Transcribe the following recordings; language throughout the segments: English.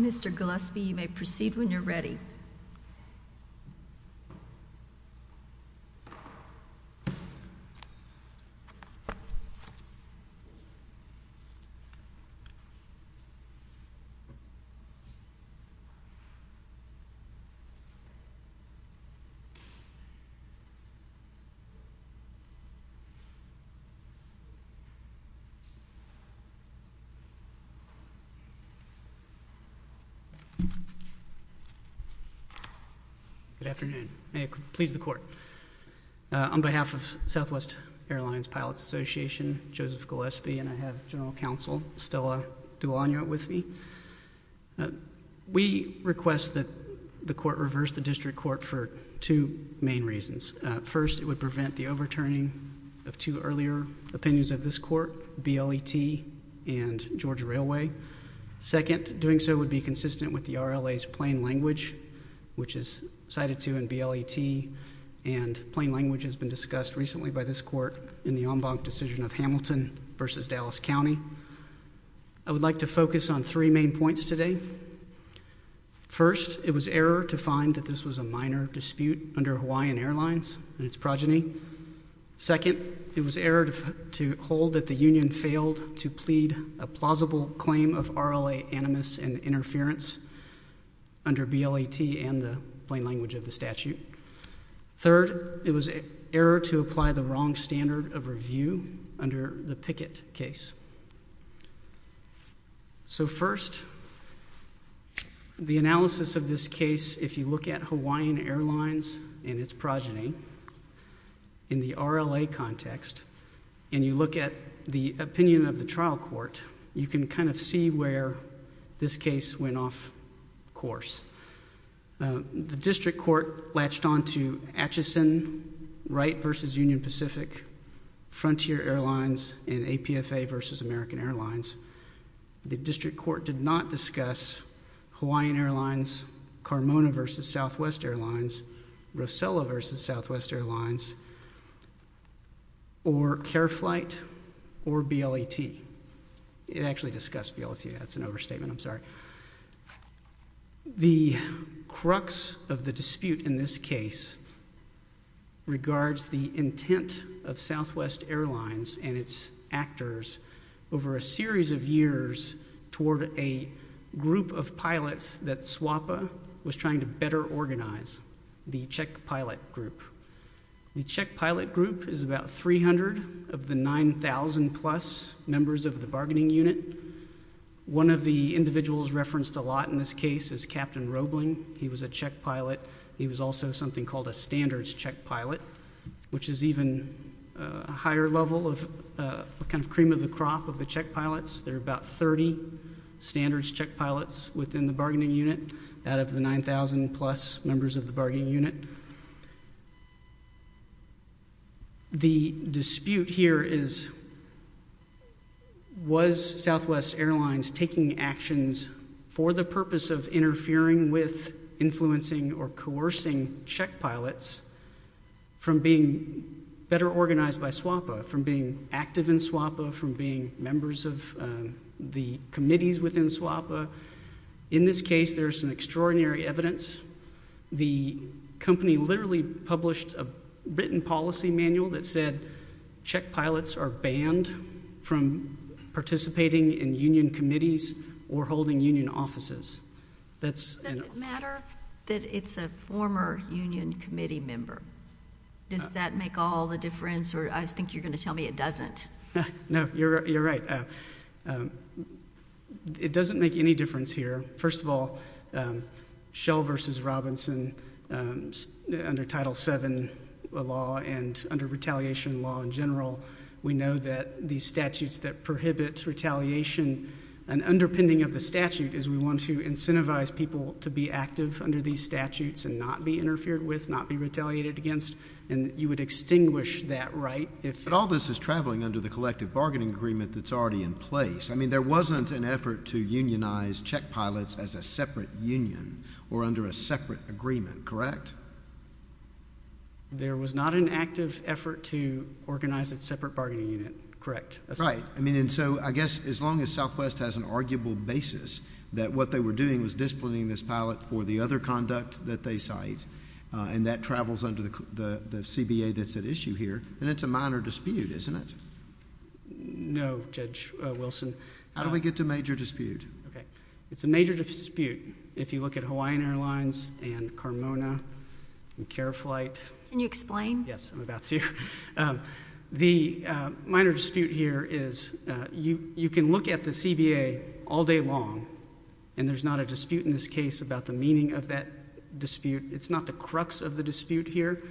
Mr. Gillespie, you may proceed when you're ready. Good afternoon. May it please the Court. On behalf of Southwest Airlines Pilots Association, Joseph Gillespie, and I have General Counsel Stella Duagno with me. We request that the Court reverse the District Court for two main reasons. First, it would prevent the overturning of two earlier opinions of this Court, BLET and Georgia Railway. Second, doing so would be consistent with the RLA's plain language, which is cited to in BLET, and plain language has been discussed recently by this Court in the en banc decision of Hamilton v. Dallas County. I would like to focus on three main points today. First, it was error to find that this was a minor dispute under Hawaiian Airlines and its progeny. Second, it was error to hold that the union failed to plead a plausible claim of RLA animus and interference under BLET and the plain language of the statute. Third, it was error to apply the wrong standard of review under the Pickett case. So first, the analysis of this case if you look at Hawaiian Airlines and its progeny in the RLA context, and you look at the opinion of the trial court, you can kind of see where this case went off course. The District Court latched onto Atchison Wright v. Union Pacific, Frontier Airlines, and APFA v. American Airlines. The District Court did not discuss Hawaiian Airlines, Carmona v. Southwest Airlines, Rosella v. Southwest Airlines, or CareFlight, or BLET. It actually discussed BLET, that's an overstatement, I'm sorry. The crux of the dispute in this case regards the intent of Southwest Airlines and its actors over a series of years toward a group of pilots that SWAPA was trying to better organize, the Czech pilot group. The Czech pilot group is about 300 of the 9,000 plus members of the bargaining unit. One of the individuals referenced a lot in this case is Captain Roebling. He was a Czech pilot. He was also something called a standards Czech pilot, which is even a higher level of a kind of cream of the crop of the Czech pilots. There are about 30 standards Czech pilots within the bargaining unit out of the 9,000 plus members of the bargaining unit. The dispute here is, was Southwest Airlines taking actions for the purpose of interfering with, influencing, or coercing Czech pilots from being better organized by SWAPA, from being active in SWAPA, from being members of the committees within SWAPA. In this case, there's some extraordinary evidence. The company literally published a written policy manual that said Czech pilots are banned from participating in union committees or holding union offices. That's an- Does it matter that it's a former union committee member? Does that make all the difference or I think you're going to tell me it doesn't? No, you're right. It doesn't make any difference here. First of all, Shell versus Robinson under Title VII law and under retaliation law in general, we know that these statutes that prohibit retaliation and underpinning of the statute is we want to incentivize people to be active under these statutes and not be interfered with, not be retaliated against and you would extinguish that right if- But all this is traveling under the collective bargaining agreement that's already in place. I mean, there wasn't an effort to unionize Czech pilots as a separate union or under a separate agreement, correct? There was not an active effort to organize a separate bargaining unit, correct? Right. I mean, and so I guess as long as Southwest has an arguable basis that what they were doing was disciplining this pilot for the other conduct that they cite and that travels under the CBA that's at issue here, then it's a minor dispute, isn't it? No, Judge Wilson. How do we get to major dispute? It's a major dispute. If you look at Hawaiian Airlines and Carmona and CareFlight- Can you explain? Yes, I'm about to. The minor dispute here is you can look at the CBA all day long and there's not a dispute in this case about the meaning of that dispute. It's not the crux of the dispute here.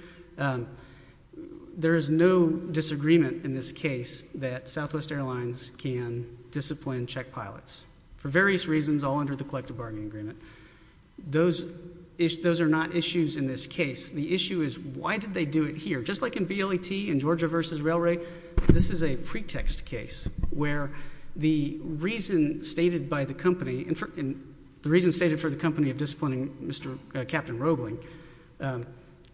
There is no disagreement in this case that Southwest Airlines can discipline Czech pilots for various reasons all under the collective bargaining agreement. Those are not issues in this case. The issue is why did they do it here? Just like in BLAT, in Georgia versus Railway, this is a pretext case where the reason stated by the company, the reason stated for the company of disciplining Captain Roebling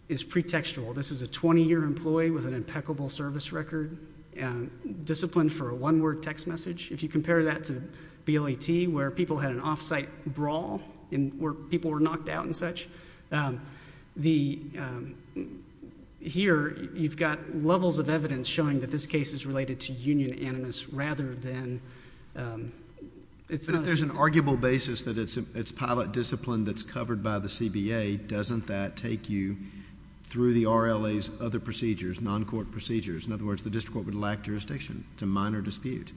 is pretextual. This is a 20-year employee with an impeccable service record, disciplined for a one-word text message. If you compare that to BLAT where people had an off-site brawl, where people were knocked out and such, here you've got levels of evidence showing that this case is related to union animus rather than- There's an arguable basis that it's pilot discipline that's covered by the CBA. Doesn't that take you through the RLA's other procedures, non-court procedures? In other words, the district court would lack jurisdiction. It's a minor dispute.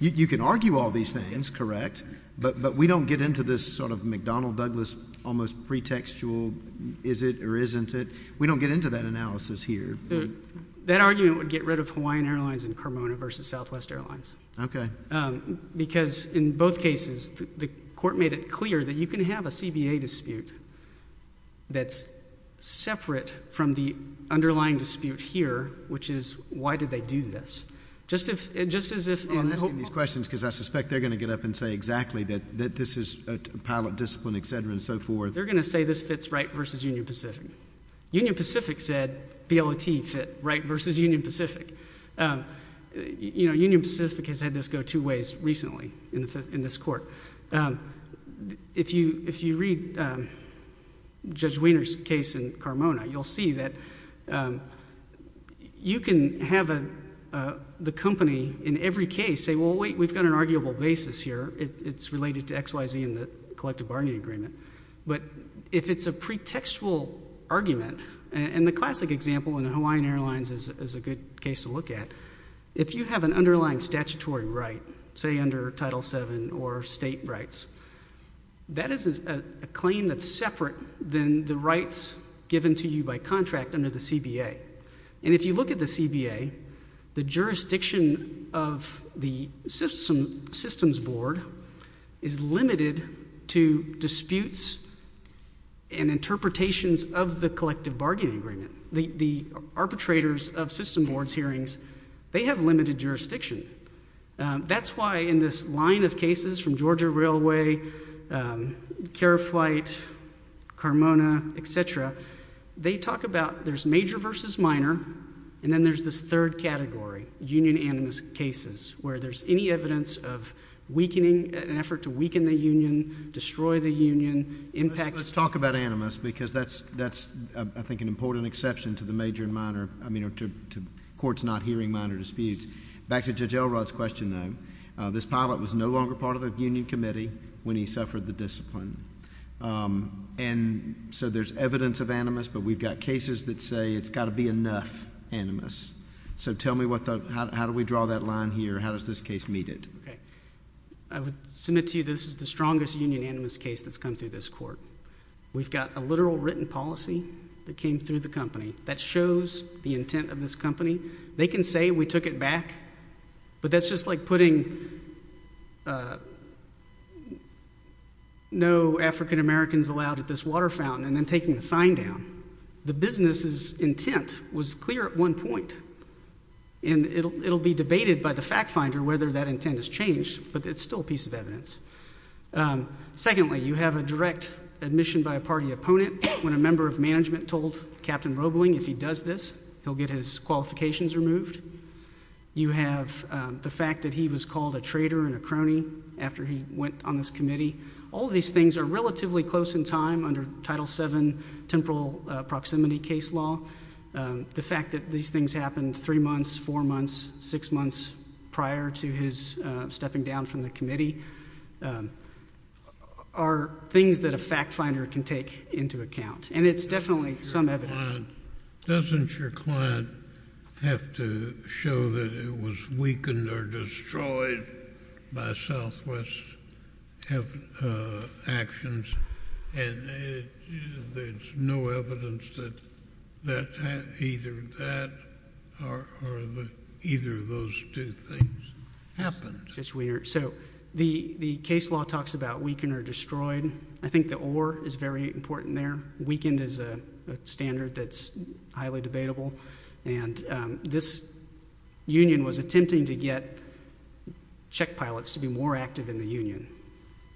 You can argue all these things, that's correct, but we don't get into this sort of McDonnell-Douglas almost pretextual is it or isn't it. We don't get into that analysis here. That argument would get rid of Hawaiian Airlines and Carmona versus Southwest Airlines because in both cases, the court made it clear that you can have a CBA dispute that's separate from the underlying dispute here, which is why did they do this? Just as if- I'm asking questions because I suspect they're going to get up and say exactly that this is a pilot discipline, et cetera, and so forth. They're going to say this fits Wright versus Union Pacific. Union Pacific said BLAT fit Wright versus Union Pacific. Union Pacific has had this go two ways recently in this court. If you read Judge Wiener's case in Carmona, you'll see that you can have the company in every case say, well, wait, we've got an arguable basis here. It's related to XYZ and the collective bargaining agreement. If it's a pretextual argument, and the classic example in Hawaiian Airlines is a good case to look at, if you have an underlying statutory right, say under Title VII or state rights, that is a claim that's separate than the rights given to you by contract under the CBA. If you look at the CBA, the jurisdiction of the systems board is limited to disputes and interpretations of the collective bargaining agreement. The arbitrators of system boards hearings, they have limited jurisdiction. That's why in this line of cases from Georgia Railway, Care Flight, Carmona, et cetera, they talk about there's major versus minor, and then there's this third category, union animus cases, where there's any evidence of weakening, an effort to weaken the union, destroy the union, impact... Let's talk about animus, because that's, I think, an important exception to the major and minor, I mean, to courts not hearing minor disputes. Back to Judge Elrod's question, though, this pilot was no longer part of the union committee when he suffered the discipline. So there's evidence of animus, but we've got cases that say it's got to be enough animus. So tell me, how do we draw that line here? How does this case meet it? I would submit to you this is the strongest union animus case that's come through this court. We've got a literal written policy that came through the company that shows the intent of this company. They can say we took it back, but that's just like putting no African-Americans allowed at this water fountain and then taking the sign down. The business's intent was clear at one point, and it'll be debated by the fact finder whether that intent has changed, but it's still a piece of evidence. Secondly, you have a direct admission by a party opponent. When a member of management told Captain Roebling if he does this, he'll get his qualifications removed. You have the fact that he was called a traitor and a crony after he went on this committee. All these things are relatively close in time under Title VII temporal proximity case law. The fact that these things happened three months, four months, six months prior to his stepping down from the committee are things that a fact finder can take into account, and it's definitely some evidence. Doesn't your client have to show that it was weakened or destroyed by Southwest actions, and there's no evidence that either that or either of those two things happened? It's weird. The case law talks about weakened or destroyed. I think the or is very important there. Weakened is a standard that's highly debatable, and this union was attempting to get check pilots to be more active in the union,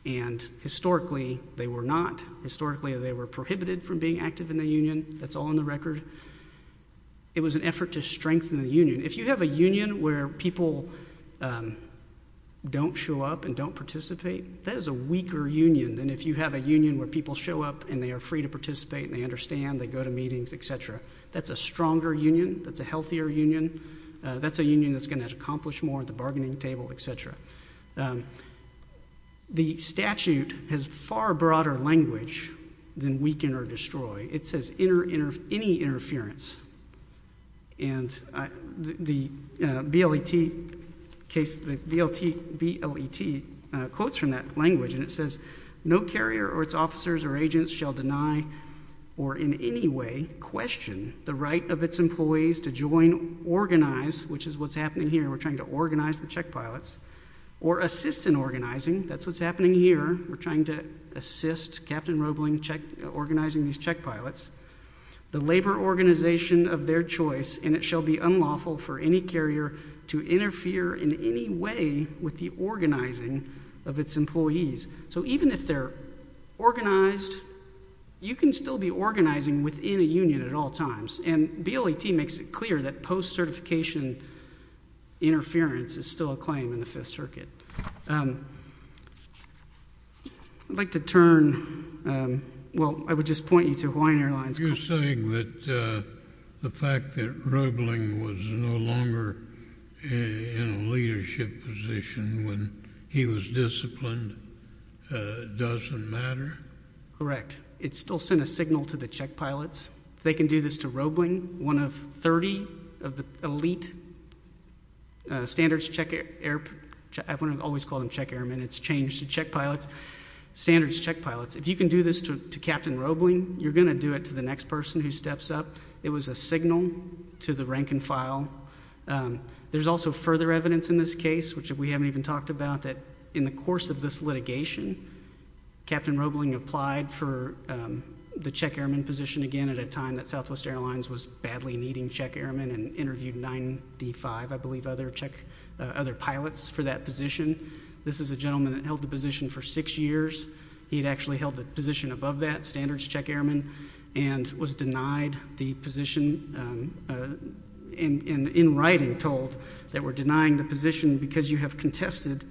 and historically, they were not. Historically, they were prohibited from being active in the union. That's all in the record. It was an effort to strengthen the union. If you have a union where people don't show up and don't participate, that is a weaker union than if you have a union where people show up and they are free to participate and they understand, they go to meetings, et cetera. That's a stronger union. That's a healthier union. That's a union that's going to accomplish more at the bargaining table, et cetera. The statute has far broader language than weaken or destroy. It says any interference, and the BLET quotes from that language, and it says, no carrier or its officers or agents shall deny or in any way question the right of its employees to join, organize, which is what's happening here. We're trying to organize the check pilots, or assist in organizing. That's what's happening here. We're trying to assist Captain Roebling organizing these check pilots. The labor organization of their choice, and it shall be unlawful for any carrier to interfere in any way with the organizing of its employees. Even if they're organized, you can still be organizing within a union at all times, and BLET makes it clear that post-certification interference is still a claim in the Fifth Circuit. I'd like to turn, well, I would just point you to Hawaiian Airlines. You're saying that the fact that Roebling was no longer in a leadership position when he was disciplined doesn't matter? Correct. It still sent a signal to the check pilots. If they can do this to Roebling, one of 30 of the elite standards check air, I always call them check airmen, it's changed to check pilots, standards check pilots. If you can do this to Captain Roebling, you're going to do it to the next person who steps up. It was a signal to the rank and file. There's also further evidence in this case, which we haven't even talked about, that in the course of this litigation, Captain Roebling applied for the check airman position again at a time that Southwest Airlines was badly needing check airmen and interviewed 95, I believe, other pilots for that position. This is a gentleman that held the position for six years. He had actually held the position above that, standards check airman, and was denied the position and in writing told that we're denying the position because you have contested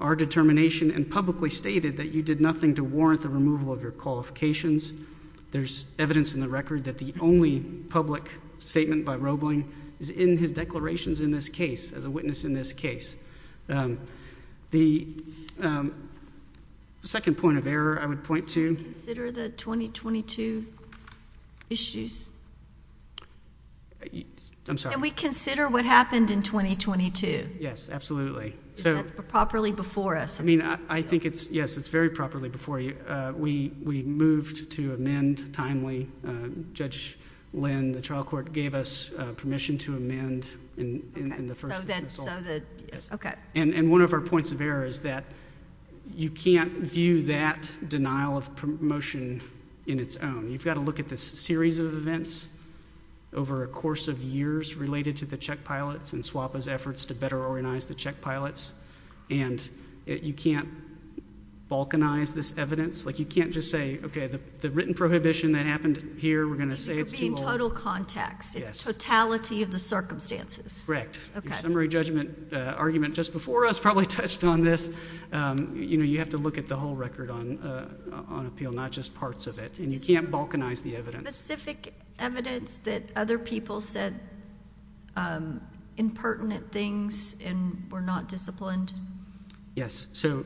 our determination and publicly stated that you did nothing to warrant the removal of your qualifications. There's evidence in the record that the only public statement by Roebling is in his declarations in this case, as a witness in this case. The second point of error I would point to... Consider the 2022 issues. I'm sorry. We consider what happened in 2022. Yes, absolutely. Is that properly before us? I think it's, yes, it's very properly before you. We moved to amend timely. Judge Lynn, the trial court gave us permission to amend in the first instance. One of our points of error is that you can't view that denial of promotion in its own. You've got to look at this series of events over a course of years related to the Czech pilots and SWAPA's efforts to better organize the Czech pilots and you can't balkanize this evidence. You can't just say, okay, the written prohibition that happened here, we're going to say it's too old. It would be in total context. Yes. It's totality of the circumstances. Correct. Okay. Your summary judgment argument just before us probably touched on this. You have to look at the whole record on appeal, not just parts of it. And you can't balkanize the evidence. Specific evidence that other people said impertinent things and were not disciplined. Yes. So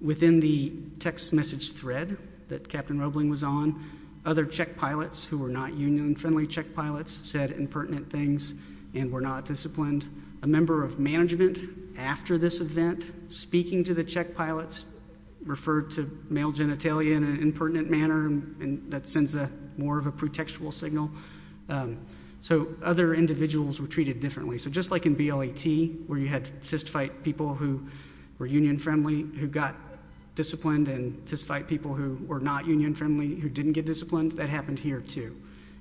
within the text message thread that Captain Roebling was on, other Czech pilots who were not union friendly Czech pilots said impertinent things and were not disciplined. And a member of management after this event speaking to the Czech pilots referred to male genitalia in an impertinent manner and that sends a more of a pretextual signal. So other individuals were treated differently. So just like in BLAT where you had fist fight people who were union friendly who got disciplined and fist fight people who were not union friendly who didn't get disciplined, that happened here too.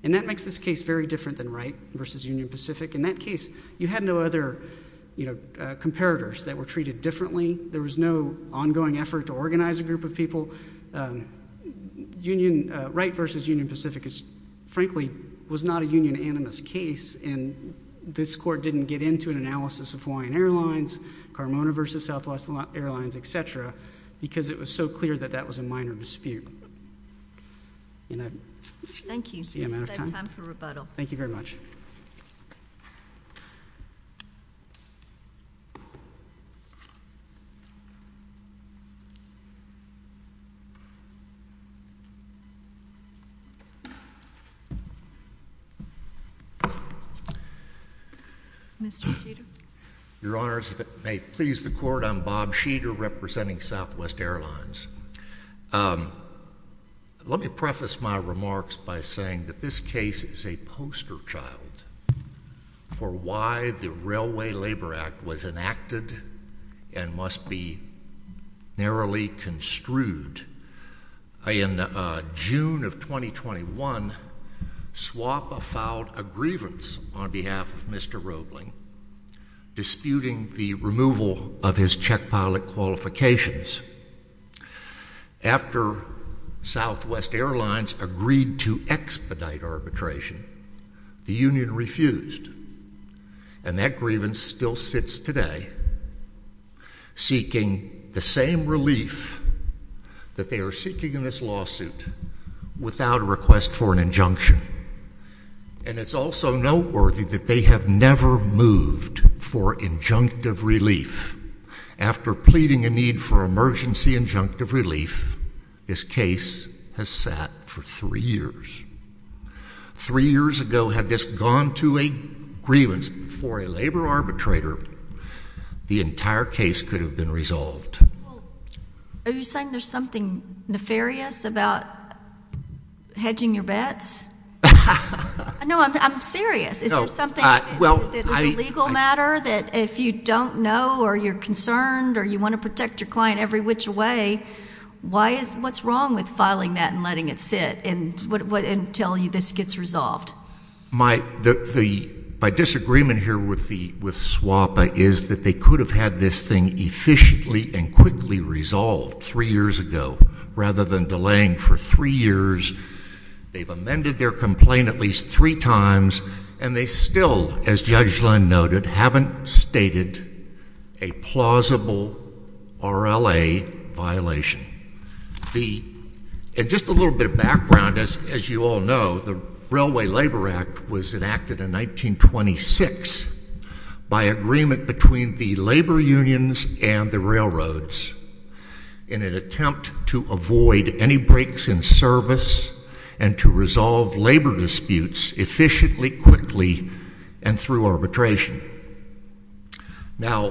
And that makes this case very different than Wright versus Union Pacific. In that case, you had no other, you know, comparators that were treated differently. There was no ongoing effort to organize a group of people. Union Wright versus Union Pacific is frankly was not a union animus case and this court didn't get into an analysis of Hawaiian Airlines, Carmona versus Southwest Airlines, et cetera, because it was so clear that that was a minor dispute. Thank you. Time for rebuttal. Thank you very much. Mr. Sheeter. Your Honors, if it may please the Court, I'm Bob Sheeter representing Southwest Airlines. Let me preface my remarks by saying that this case is a poster child for why the Railway Labor Act was enacted and must be narrowly construed. In June of 2021, SWAPA filed a grievance on behalf of Mr. Roebling disputing the removal of his check pilot qualifications. After Southwest Airlines agreed to expedite arbitration, the union refused. And that grievance still sits today seeking the same relief that they are seeking in this lawsuit without a request for an injunction. And it's also noteworthy that they have never moved for injunctive relief. After pleading a need for emergency injunctive relief, this case has sat for three years. Three years ago, had this gone to a grievance before a labor arbitrator, the entire case could have been resolved. Are you saying there's something nefarious about hedging your bets? No, I'm serious. Is there something that is a legal matter that if you don't know or you're concerned or you want to protect your client every which way, what's wrong with filing that and letting it sit until this gets resolved? My disagreement here with SWAPA is that they could have had this thing efficiently and quickly resolved three years ago rather than delaying for three years. They've amended their complaint at least three times, and they still, as Judge Lund noted, haven't stated a plausible RLA violation. Just a little bit of background, as you all know, the Railway Labor Act was enacted in 1926 by agreement between the labor unions and the railroads in an attempt to avoid any breaks in service and to resolve labor disputes efficiently, quickly, and through arbitration. Now,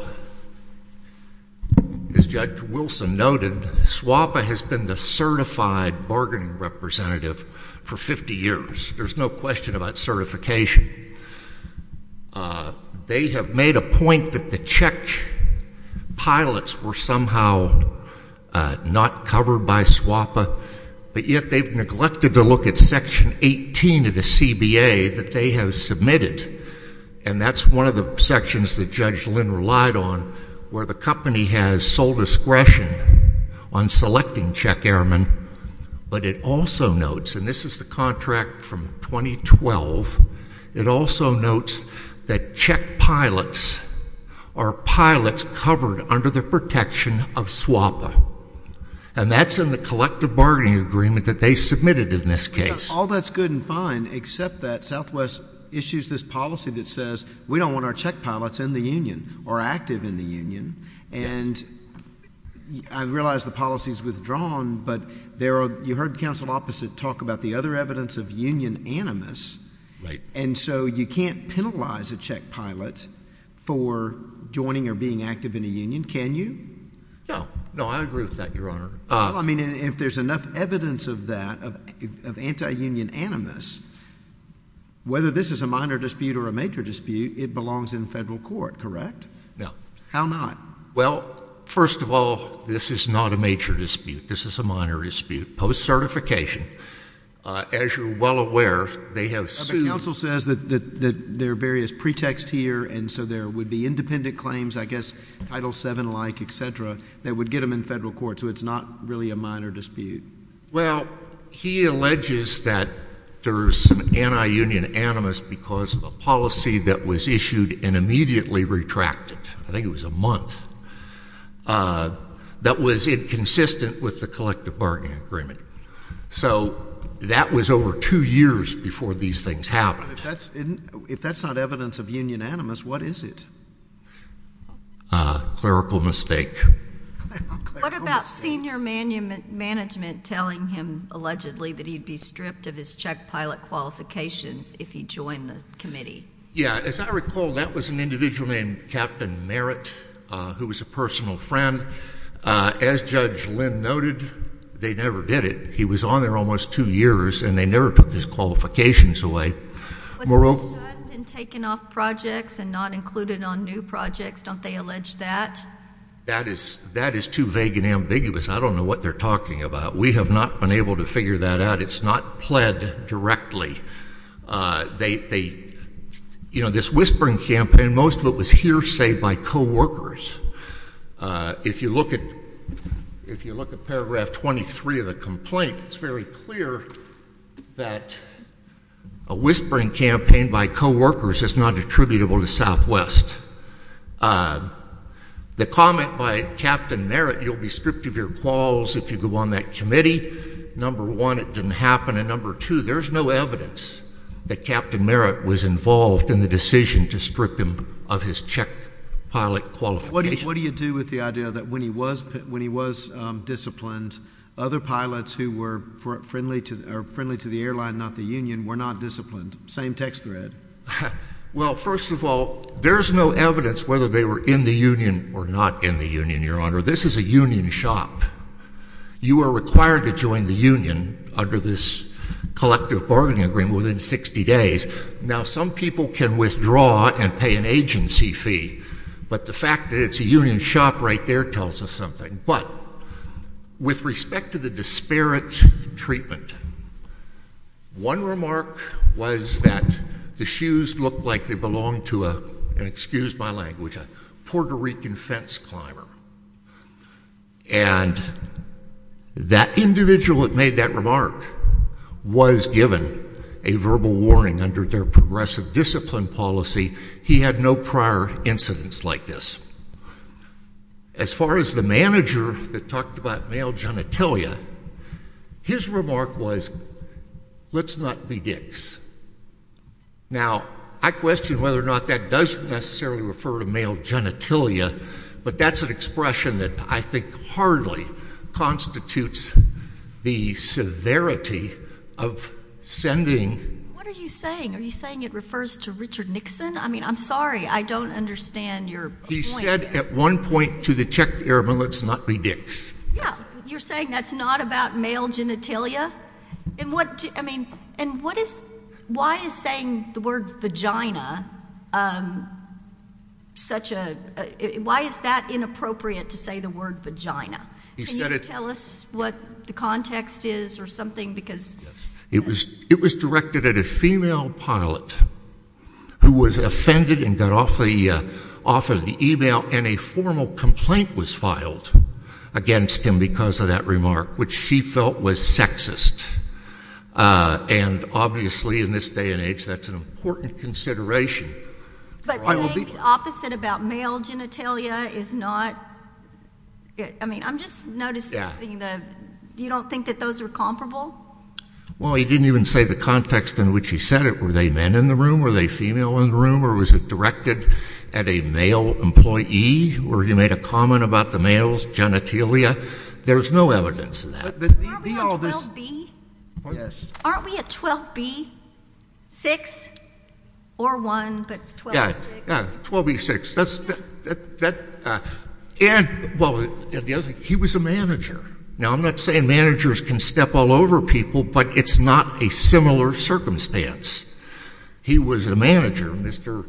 as Judge Wilson noted, SWAPA has been the certified bargaining representative for 50 years. There's no question about certification. They have made a point that the check pilots were somehow not covered by SWAPA, but yet they've neglected to look at Section 18 of the CBA that they have submitted, and that's one of the sections that Judge Lund relied on where the company has sole discretion on selecting check airmen, but it also notes, and this is the contract from 2012, it also notes that check pilots are pilots covered under the protection of SWAPA, and that's in the collective bargaining agreement that they submitted in this case. All that's good and fine, except that Southwest issues this policy that says we don't want our check pilots in the union or active in the union, and I realize the policy's withdrawn, but you heard counsel opposite talk about the other evidence of union animus, and so you can't penalize a check pilot for joining or being active in a union, can you? No. No, I agree with that, Your Honor. Well, I mean, if there's enough evidence of that, of anti-union animus, whether this is a minor dispute or a major dispute, it belongs in federal court, correct? No. How not? Well, first of all, this is not a major dispute. This is a minor dispute, post-certification. As you're well aware, they have sued— But counsel says that there are various pretexts here, and so there would be independent claims, I guess Title VII-like, et cetera, that would get them in federal court, so it's not really a minor dispute. Well, he alleges that there's some anti-union animus because of a policy that was issued and immediately retracted—I think it was a month—that was inconsistent with the collective bargaining agreement. So that was over two years before these things happened. If that's not evidence of union animus, what is it? A clerical mistake. What about senior management telling him, allegedly, that he'd be stripped of his check pilot qualifications if he joined the committee? Yeah. As I recall, that was an individual named Captain Merritt, who was a personal friend. As Judge Lynn noted, they never did it. He was on there almost two years, and they never took his qualifications away. Was he shunned and taken off projects and not included on new projects? Don't they allege that? That is too vague and ambiguous. I don't know what they're talking about. We have not been able to figure that out. It's not pled directly. This whispering campaign, most of it was hearsay by coworkers. If you look at paragraph 23 of the complaint, it's very clear that a whispering campaign by coworkers is not attributable to Southwest. The comment by Captain Merritt, you'll be stripped of your quals if you go on that committee, number one, it didn't happen, and number two, there's no evidence that Captain Merritt was involved in the decision to strip him of his check pilot qualifications. What do you do with the idea that when he was disciplined, other pilots who were friendly to the airline, not the union, were not disciplined? Same text thread. Well, first of all, there's no evidence whether they were in the union or not in the union, Your Honor. This is a union shop. You are required to join the union under this collective bargaining agreement within 60 days. Now, some people can withdraw and pay an agency fee, but the fact that it's a union shop right there tells us something, but with respect to the disparate treatment, one remark was that the shoes looked like they belonged to a, and excuse my language, a Puerto Rican fence climber, and that individual that made that remark was given a verbal warning under their progressive discipline policy. He had no prior incidents like this. As far as the manager that talked about male genitalia, his remark was, let's not be dicks. Now, I question whether or not that does necessarily refer to male genitalia, but that's an expression that I think hardly constitutes the severity of sending— What are you saying? Are you saying it refers to Richard Nixon? I mean, I'm sorry, I don't understand your point. He said at one point to the Czech Airmen, let's not be dicks. Yeah. You're saying that's not about male genitalia? And what, I mean, and what is, why is saying the word vagina such a, why is that inappropriate to say the word vagina? He said it— Can you tell us what the context is or something, because— It was directed at a female pilot who was offended and got off of the email, and a formal complaint was filed against him because of that remark, which she felt was sexist. And obviously in this day and age, that's an important consideration. But saying the opposite about male genitalia is not, I mean, I'm just noticing that you don't think that those are comparable? Well, he didn't even say the context in which he said it. Were they men in the room? Were they female in the room? Or was it directed at a male employee where he made a comment about the male's genitalia? There's no evidence of that. But the, all this— Aren't we on 12B? Yes. Aren't we at 12B6? Or 1, but 12B6. Yeah. Yeah. 12B6. That's, that, that, and, well, the other thing, he was a manager. Now, I'm not saying managers can step all over people, but it's not a similar circumstance. He was a manager. Mr.,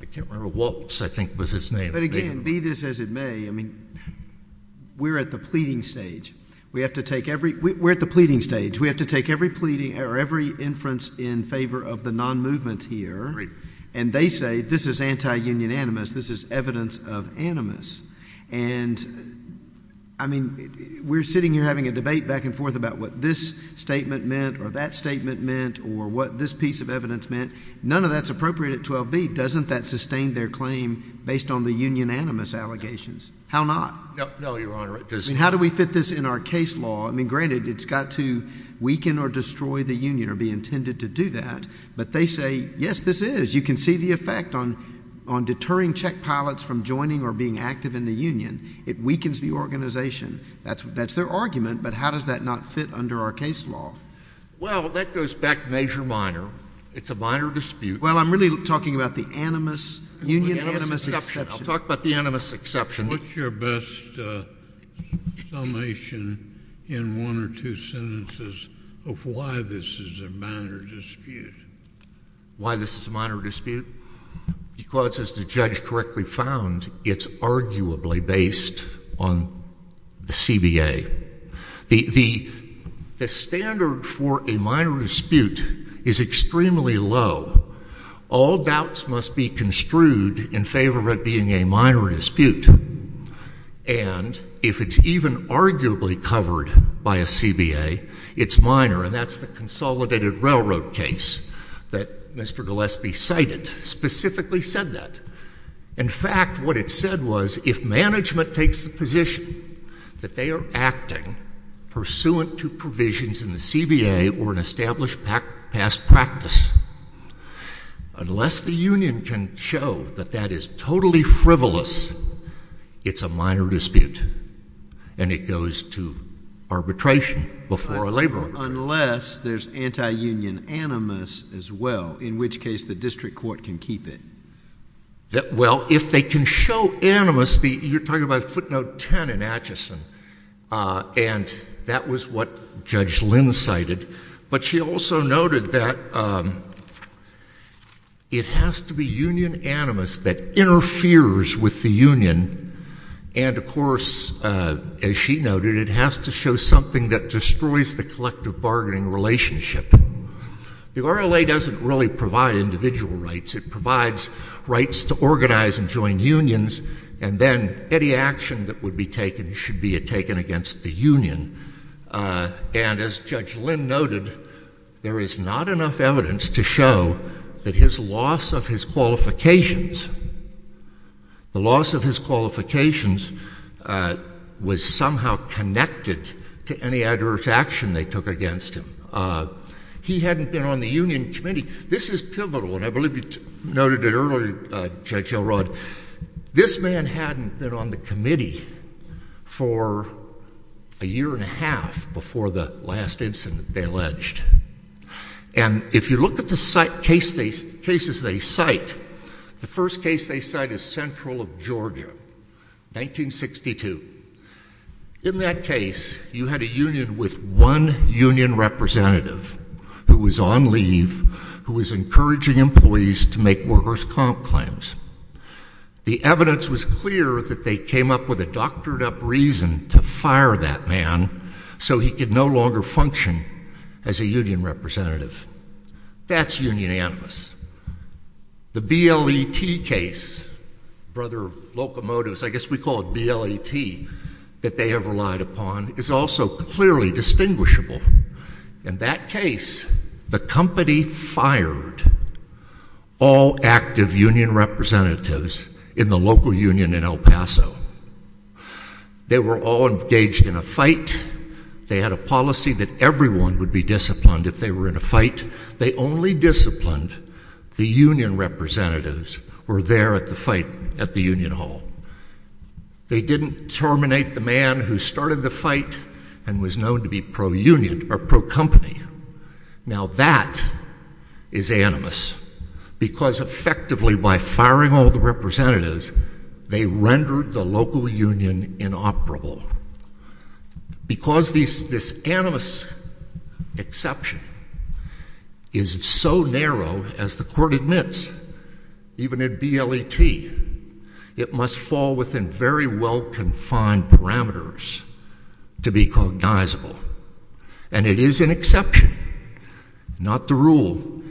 I can't remember, Waltz, I think, was his name. But again, be this as it may, I mean, we're at the pleading stage. We have to take every, we're at the pleading stage. We have to take every pleading, or every inference in favor of the non-movement here. And they say, this is anti-union animus. This is evidence of animus. And, I mean, we're sitting here having a debate back and forth about what this statement meant or that statement meant or what this piece of evidence meant. None of that's appropriate at 12B. Doesn't that sustain their claim based on the union animus allegations? How not? No, Your Honor. I mean, how do we fit this in our case law? I mean, granted, it's got to weaken or destroy the union or be intended to do that. But they say, yes, this is. As you can see, the effect on deterring checkpilots from joining or being active in the union, it weakens the organization. That's their argument. But how does that not fit under our case law? Well, that goes back major-minor. It's a minor dispute. Well, I'm really talking about the animus, union animus exception. I'll talk about the animus exception. What's your best summation in one or two sentences of why this is a minor dispute? Why this is a minor dispute? Because, as the judge correctly found, it's arguably based on the CBA. The standard for a minor dispute is extremely low. All doubts must be construed in favor of it being a minor dispute. And if it's even arguably covered by a CBA, it's minor. And that's the consolidated railroad case that Mr. Gillespie cited specifically said that. In fact, what it said was, if management takes the position that they are acting pursuant to provisions in the CBA or an established past practice, unless the union can show that that is totally frivolous, it's a minor dispute, and it goes to arbitration before a labor court. Unless there's anti-union animus as well, in which case the district court can keep it. Well, if they can show animus, you're talking about footnote 10 in Atchison, and that was what Judge Lynn cited, but she also noted that it has to be union animus that interferes with the union, and of course, as she noted, it has to show something that destroys the collective bargaining relationship. The RLA doesn't really provide individual rights. It provides rights to organize and join unions, and then any action that would be taken should be taken against the union. And as Judge Lynn noted, there is not enough evidence to show that his loss of his qualifications was somehow connected to any adverse action they took against him. He hadn't been on the union committee. This is pivotal, and I believe you noted it earlier, Judge Elrod, this man hadn't been on the committee for a year and a half before the last incident they alleged. And if you look at the cases they cite, the first case they cite is Central of Georgia, 1962. In that case, you had a union with one union representative who was on leave, who was encouraging employees to make workers' comp claims. The evidence was clear that they came up with a doctored-up reason to fire that man so he could no longer function as a union representative. That's union animus. The BLET case, Brother Locomotives, I guess we call it BLET, that they have relied upon is also clearly distinguishable. In that case, the company fired all active union representatives in the local union in El Paso. They were all engaged in a fight. They had a policy that everyone would be disciplined if they were in a fight. They only disciplined the union representatives who were there at the fight at the union hall. They didn't terminate the man who started the fight and was known to be pro-union or pro-company. Now, that is animus, because effectively, by firing all the representatives, they rendered the local union inoperable. Because this animus exception is so narrow, as the Court admits, even in BLET, it must fall within very well-confined parameters to be cognizable. And it is an exception, not the rule.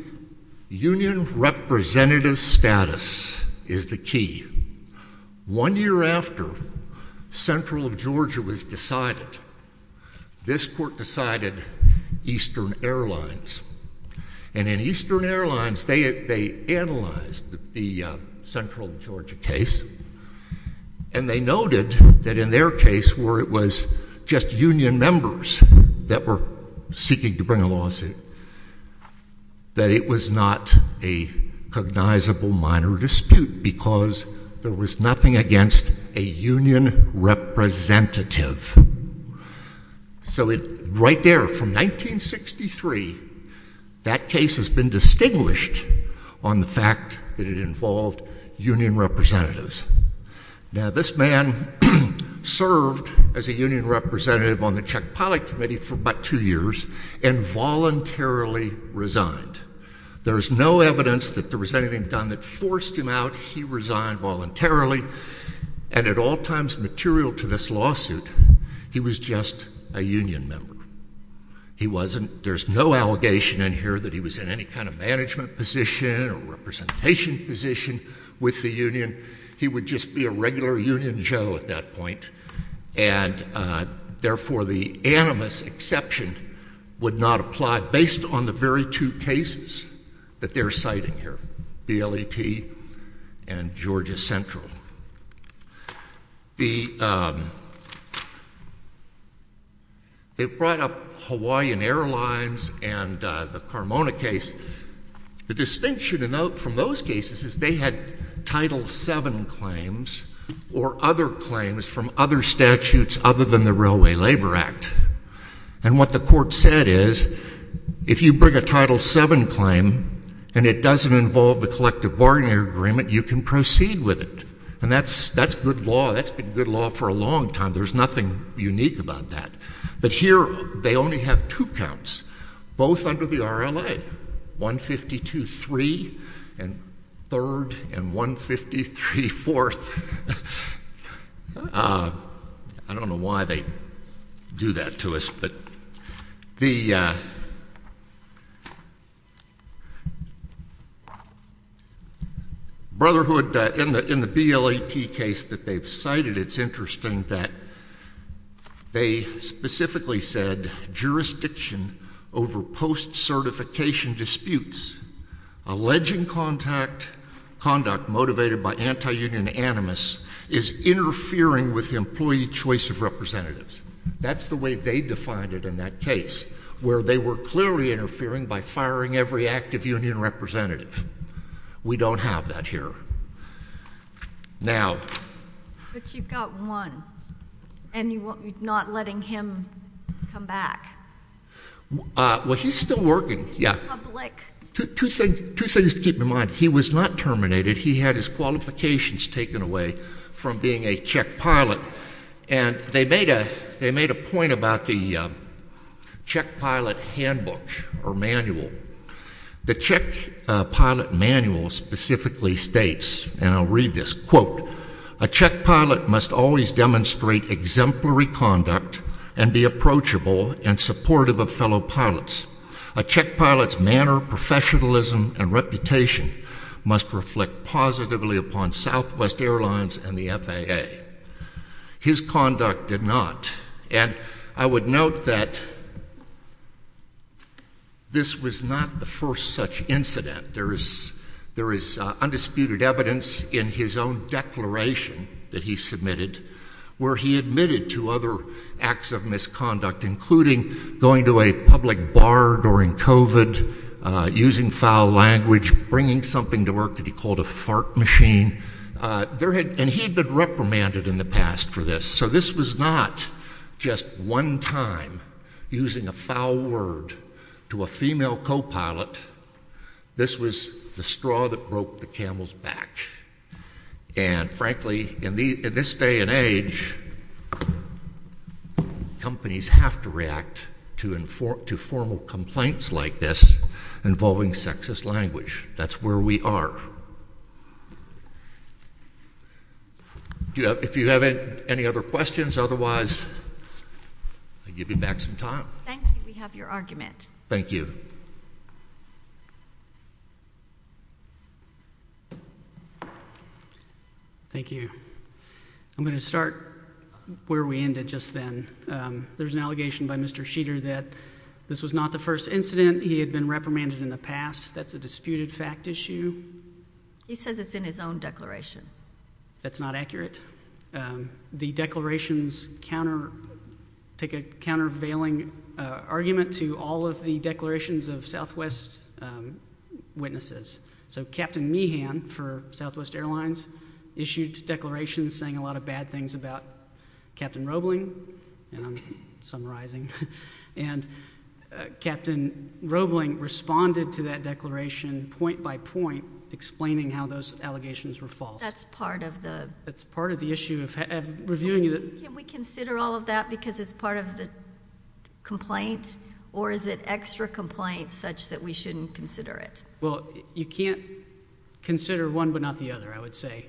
Union representative status is the key. One year after Central Georgia was decided, this Court decided Eastern Airlines. And in Eastern Airlines, they analyzed the Central Georgia case. And they noted that in their case, where it was just union members that were seeking to file a lawsuit, that it was not a cognizable minor dispute, because there was nothing against a union representative. So right there, from 1963, that case has been distinguished on the fact that it involved union representatives. Now, this man served as a union representative on the Czech-Polish Committee for about two years, and voluntarily resigned. There's no evidence that there was anything done that forced him out. He resigned voluntarily. And at all times material to this lawsuit, he was just a union member. He wasn't—there's no allegation in here that he was in any kind of management position or representation position with the union. He would just be a regular union joe at that point. And, therefore, the animus exception would not apply based on the very two cases that they're citing here, BLET and Georgia Central. The — they've brought up Hawaiian Airlines and the Carmona case. The distinction to note from those cases is they had Title VII claims or other claims from other statutes other than the Railway Labor Act. And what the court said is, if you bring a Title VII claim and it doesn't involve the collective bargaining agreement, you can proceed with it. And that's good law. That's been good law for a long time. There's nothing unique about that. But here, they only have two counts, both under the RLA, 152-3 and 3rd and 153-4th. I don't know why they do that to us, but the — Brotherhood, in the BLET case that they've cited, it's interesting that they specifically said, jurisdiction over post-certification disputes, alleging conduct motivated by anti-union animus, is interfering with employee choice of representatives. That's the way they defined it in that case, where they were clearly interfering by firing every active union representative. We don't have that here. Now — But you've got one, and you're not letting him come back. Well, he's still working. Public. Two things to keep in mind. He was not terminated. He had his qualifications taken away from being a Czech pilot. And they made a point about the Czech pilot handbook or manual. The Czech pilot manual specifically states, and I'll read this, quote, a Czech pilot must always demonstrate exemplary conduct and be approachable and supportive of fellow pilots. A Czech pilot's manner, professionalism, and reputation must reflect positively upon Southwest Airlines and the FAA. His conduct did not. And I would note that this was not the first such incident. There is undisputed evidence in his own declaration that he submitted where he admitted to other acts of misconduct, including going to a public bar during COVID, using foul language, bringing something to work that he called a fart machine. And he'd been reprimanded in the past for this. So this was not just one time using a foul word to a female co-pilot. This was the straw that broke the camel's back. And frankly, in this day and age, companies have to react to formal complaints like this involving sexist language. That's where we are. If you have any other questions, otherwise, I'll give you back some time. Thank you. We have your argument. Thank you. I'm going to start where we ended just then. There's an allegation by Mr. Sheeter that this was not the first incident. He had been reprimanded in the past. That's a disputed fact issue. He says it's in his own declaration. That's not accurate. The declarations take a countervailing argument to all of the declarations of Southwest witnesses. So Captain Meehan for Southwest Airlines issued declarations saying a lot of bad things about Captain Roebling, and I'm summarizing. And Captain Roebling responded to that declaration point by point explaining how those allegations were false. That's part of the... That's part of the issue of reviewing the... Can we consider all of that because it's part of the complaint? Or is it extra complaint such that we shouldn't consider it? Well, you can't consider one but not the other, I would say.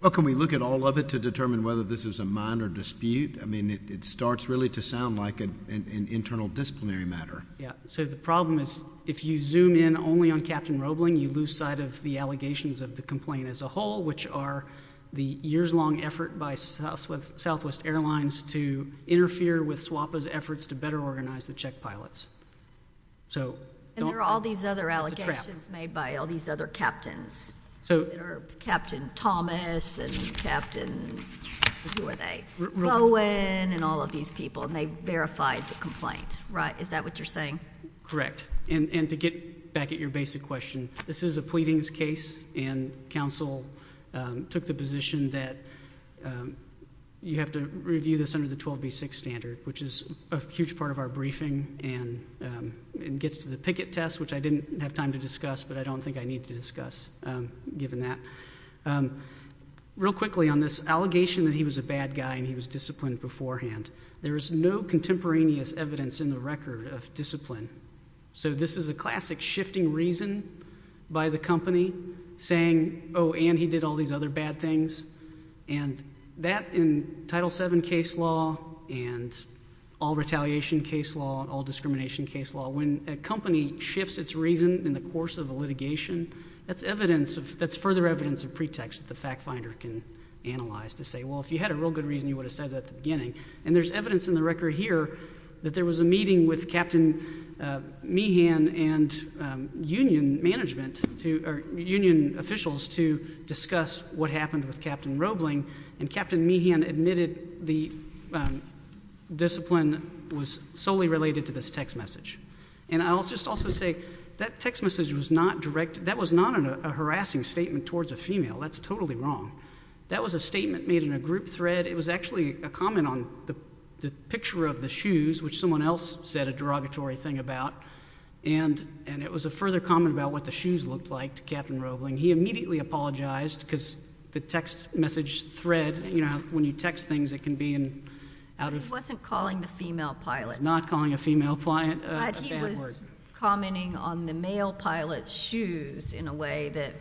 Well, can we look at all of it to determine whether this is a minor dispute? I mean, it starts really to sound like an internal disciplinary matter. Yeah. So the problem is if you zoom in only on Captain Roebling, you lose sight of the allegations of the complaint as a whole, which are the years-long effort by Southwest Airlines to interfere with SWAPA's efforts to better organize the Czech pilots. So don't... But there are all these other allegations made by all these other captains. So... Captain Thomas and Captain, who are they, Roebling and all of these people, and they verified the complaint, right? Is that what you're saying? Correct. And to get back at your basic question, this is a pleadings case, and counsel took the position that you have to review this under the 12B6 standard, which is a huge part of our briefing, and it gets to the picket test, which I didn't have time to discuss, but I don't think I need to discuss, given that. Real quickly on this allegation that he was a bad guy and he was disciplined beforehand, there is no contemporaneous evidence in the record of discipline. So this is a classic shifting reason by the company saying, oh, and he did all these other bad things. And that in Title VII case law and all retaliation case law, all discrimination case law, when a company shifts its reason in the course of a litigation, that's evidence of... That's further evidence of pretext that the fact finder can analyze to say, well, if you had a real good reason, you would have said that at the beginning. And there's evidence in the record here that there was a meeting with Captain Meehan and union officials to discuss what happened with Captain Roebling, and Captain Meehan admitted the discipline was solely related to this text message. And I'll just also say that text message was not a harassing statement towards a female. That's totally wrong. That was a statement made in a group thread. It was actually a comment on the picture of the shoes, which someone else said a derogatory thing about. And it was a further comment about what the shoes looked like to Captain Roebling. He immediately apologized, because the text message thread, when you text things, it can be out of... He wasn't calling the female pilot. Not calling a female... A bad word. But he was commenting on the male pilot's shoes in a way that...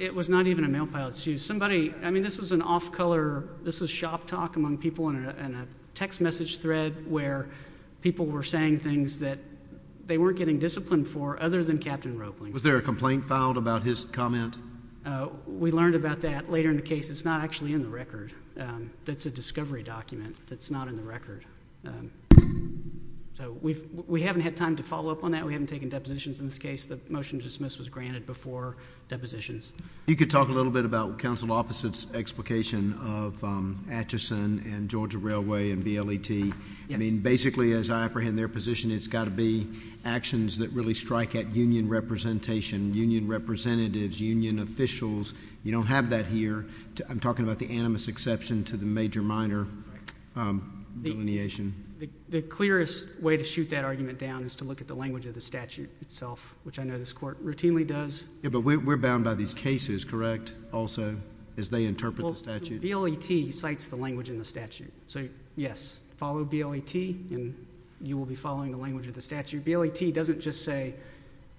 It was not even a male pilot's shoes. Somebody... I mean, this was an off-color, this was shop talk among people in a text message thread where people were saying things that they weren't getting discipline for other than Captain Roebling. Was there a complaint filed about his comment? We learned about that later in the case. It's not actually in the record. It's a discovery document that's not in the record. We haven't had time to follow up on that. We haven't taken depositions in this case. The motion to dismiss was granted before depositions. You could talk a little bit about council officers' explication of Atchison and Georgia Railway and BLET. I mean, basically, as I apprehend their position, it's got to be actions that really strike at union representation, union representatives, union officials. You don't have that here. I'm talking about the animus exception to the major-minor delineation. The clearest way to shoot that argument down is to look at the language of the statute itself, which I know this court routinely does. Yeah, but we're bound by these cases, correct, also, as they interpret the statute? The BLET cites the language in the statute, so yes, follow BLET, and you will be following the language of the statute. BLET doesn't just say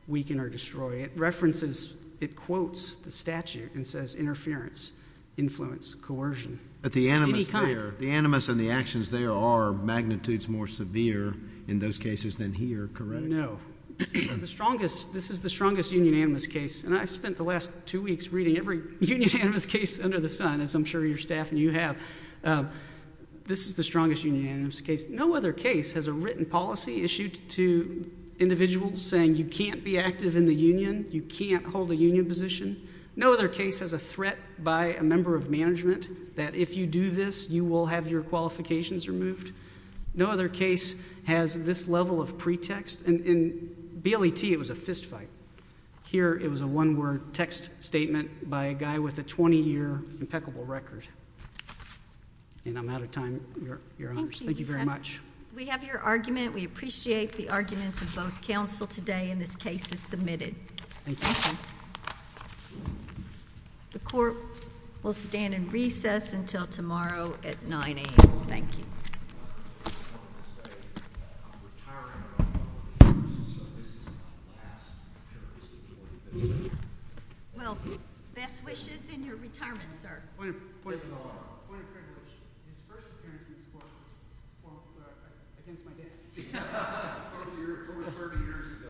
weaken or destroy. It references, it quotes the statute and says interference, influence, coercion, any kind. But the animus there, the animus and the actions there are magnitudes more severe in those cases than here, correct? No. This is the strongest union animus case, and I've spent the last two weeks reading every union animus case under the sun, as I'm sure your staff and you have. This is the strongest union animus case. No other case has a written policy issued to individuals saying you can't be active in the union, you can't hold a union position. No other case has a threat by a member of management that if you do this, you will have your qualifications removed. No other case has this level of pretext, and in BLET, it was a fistfight. Here, it was a one-word text statement by a guy with a 20-year impeccable record. And I'm out of time, Your Honors. Thank you very much. We have your argument. We appreciate the arguments of both counsel today, and this case is submitted. Thank you. The court will stand in recess until tomorrow at 9 a.m. Thank you. I just want to say that I'm retiring about four years, so this is my last appearance before you, Mr. Chairman. Well, best wishes in your retirement, sir. Point of clarification. His first appearance in this court was, well, I think it's my dad. It was 30 years ago.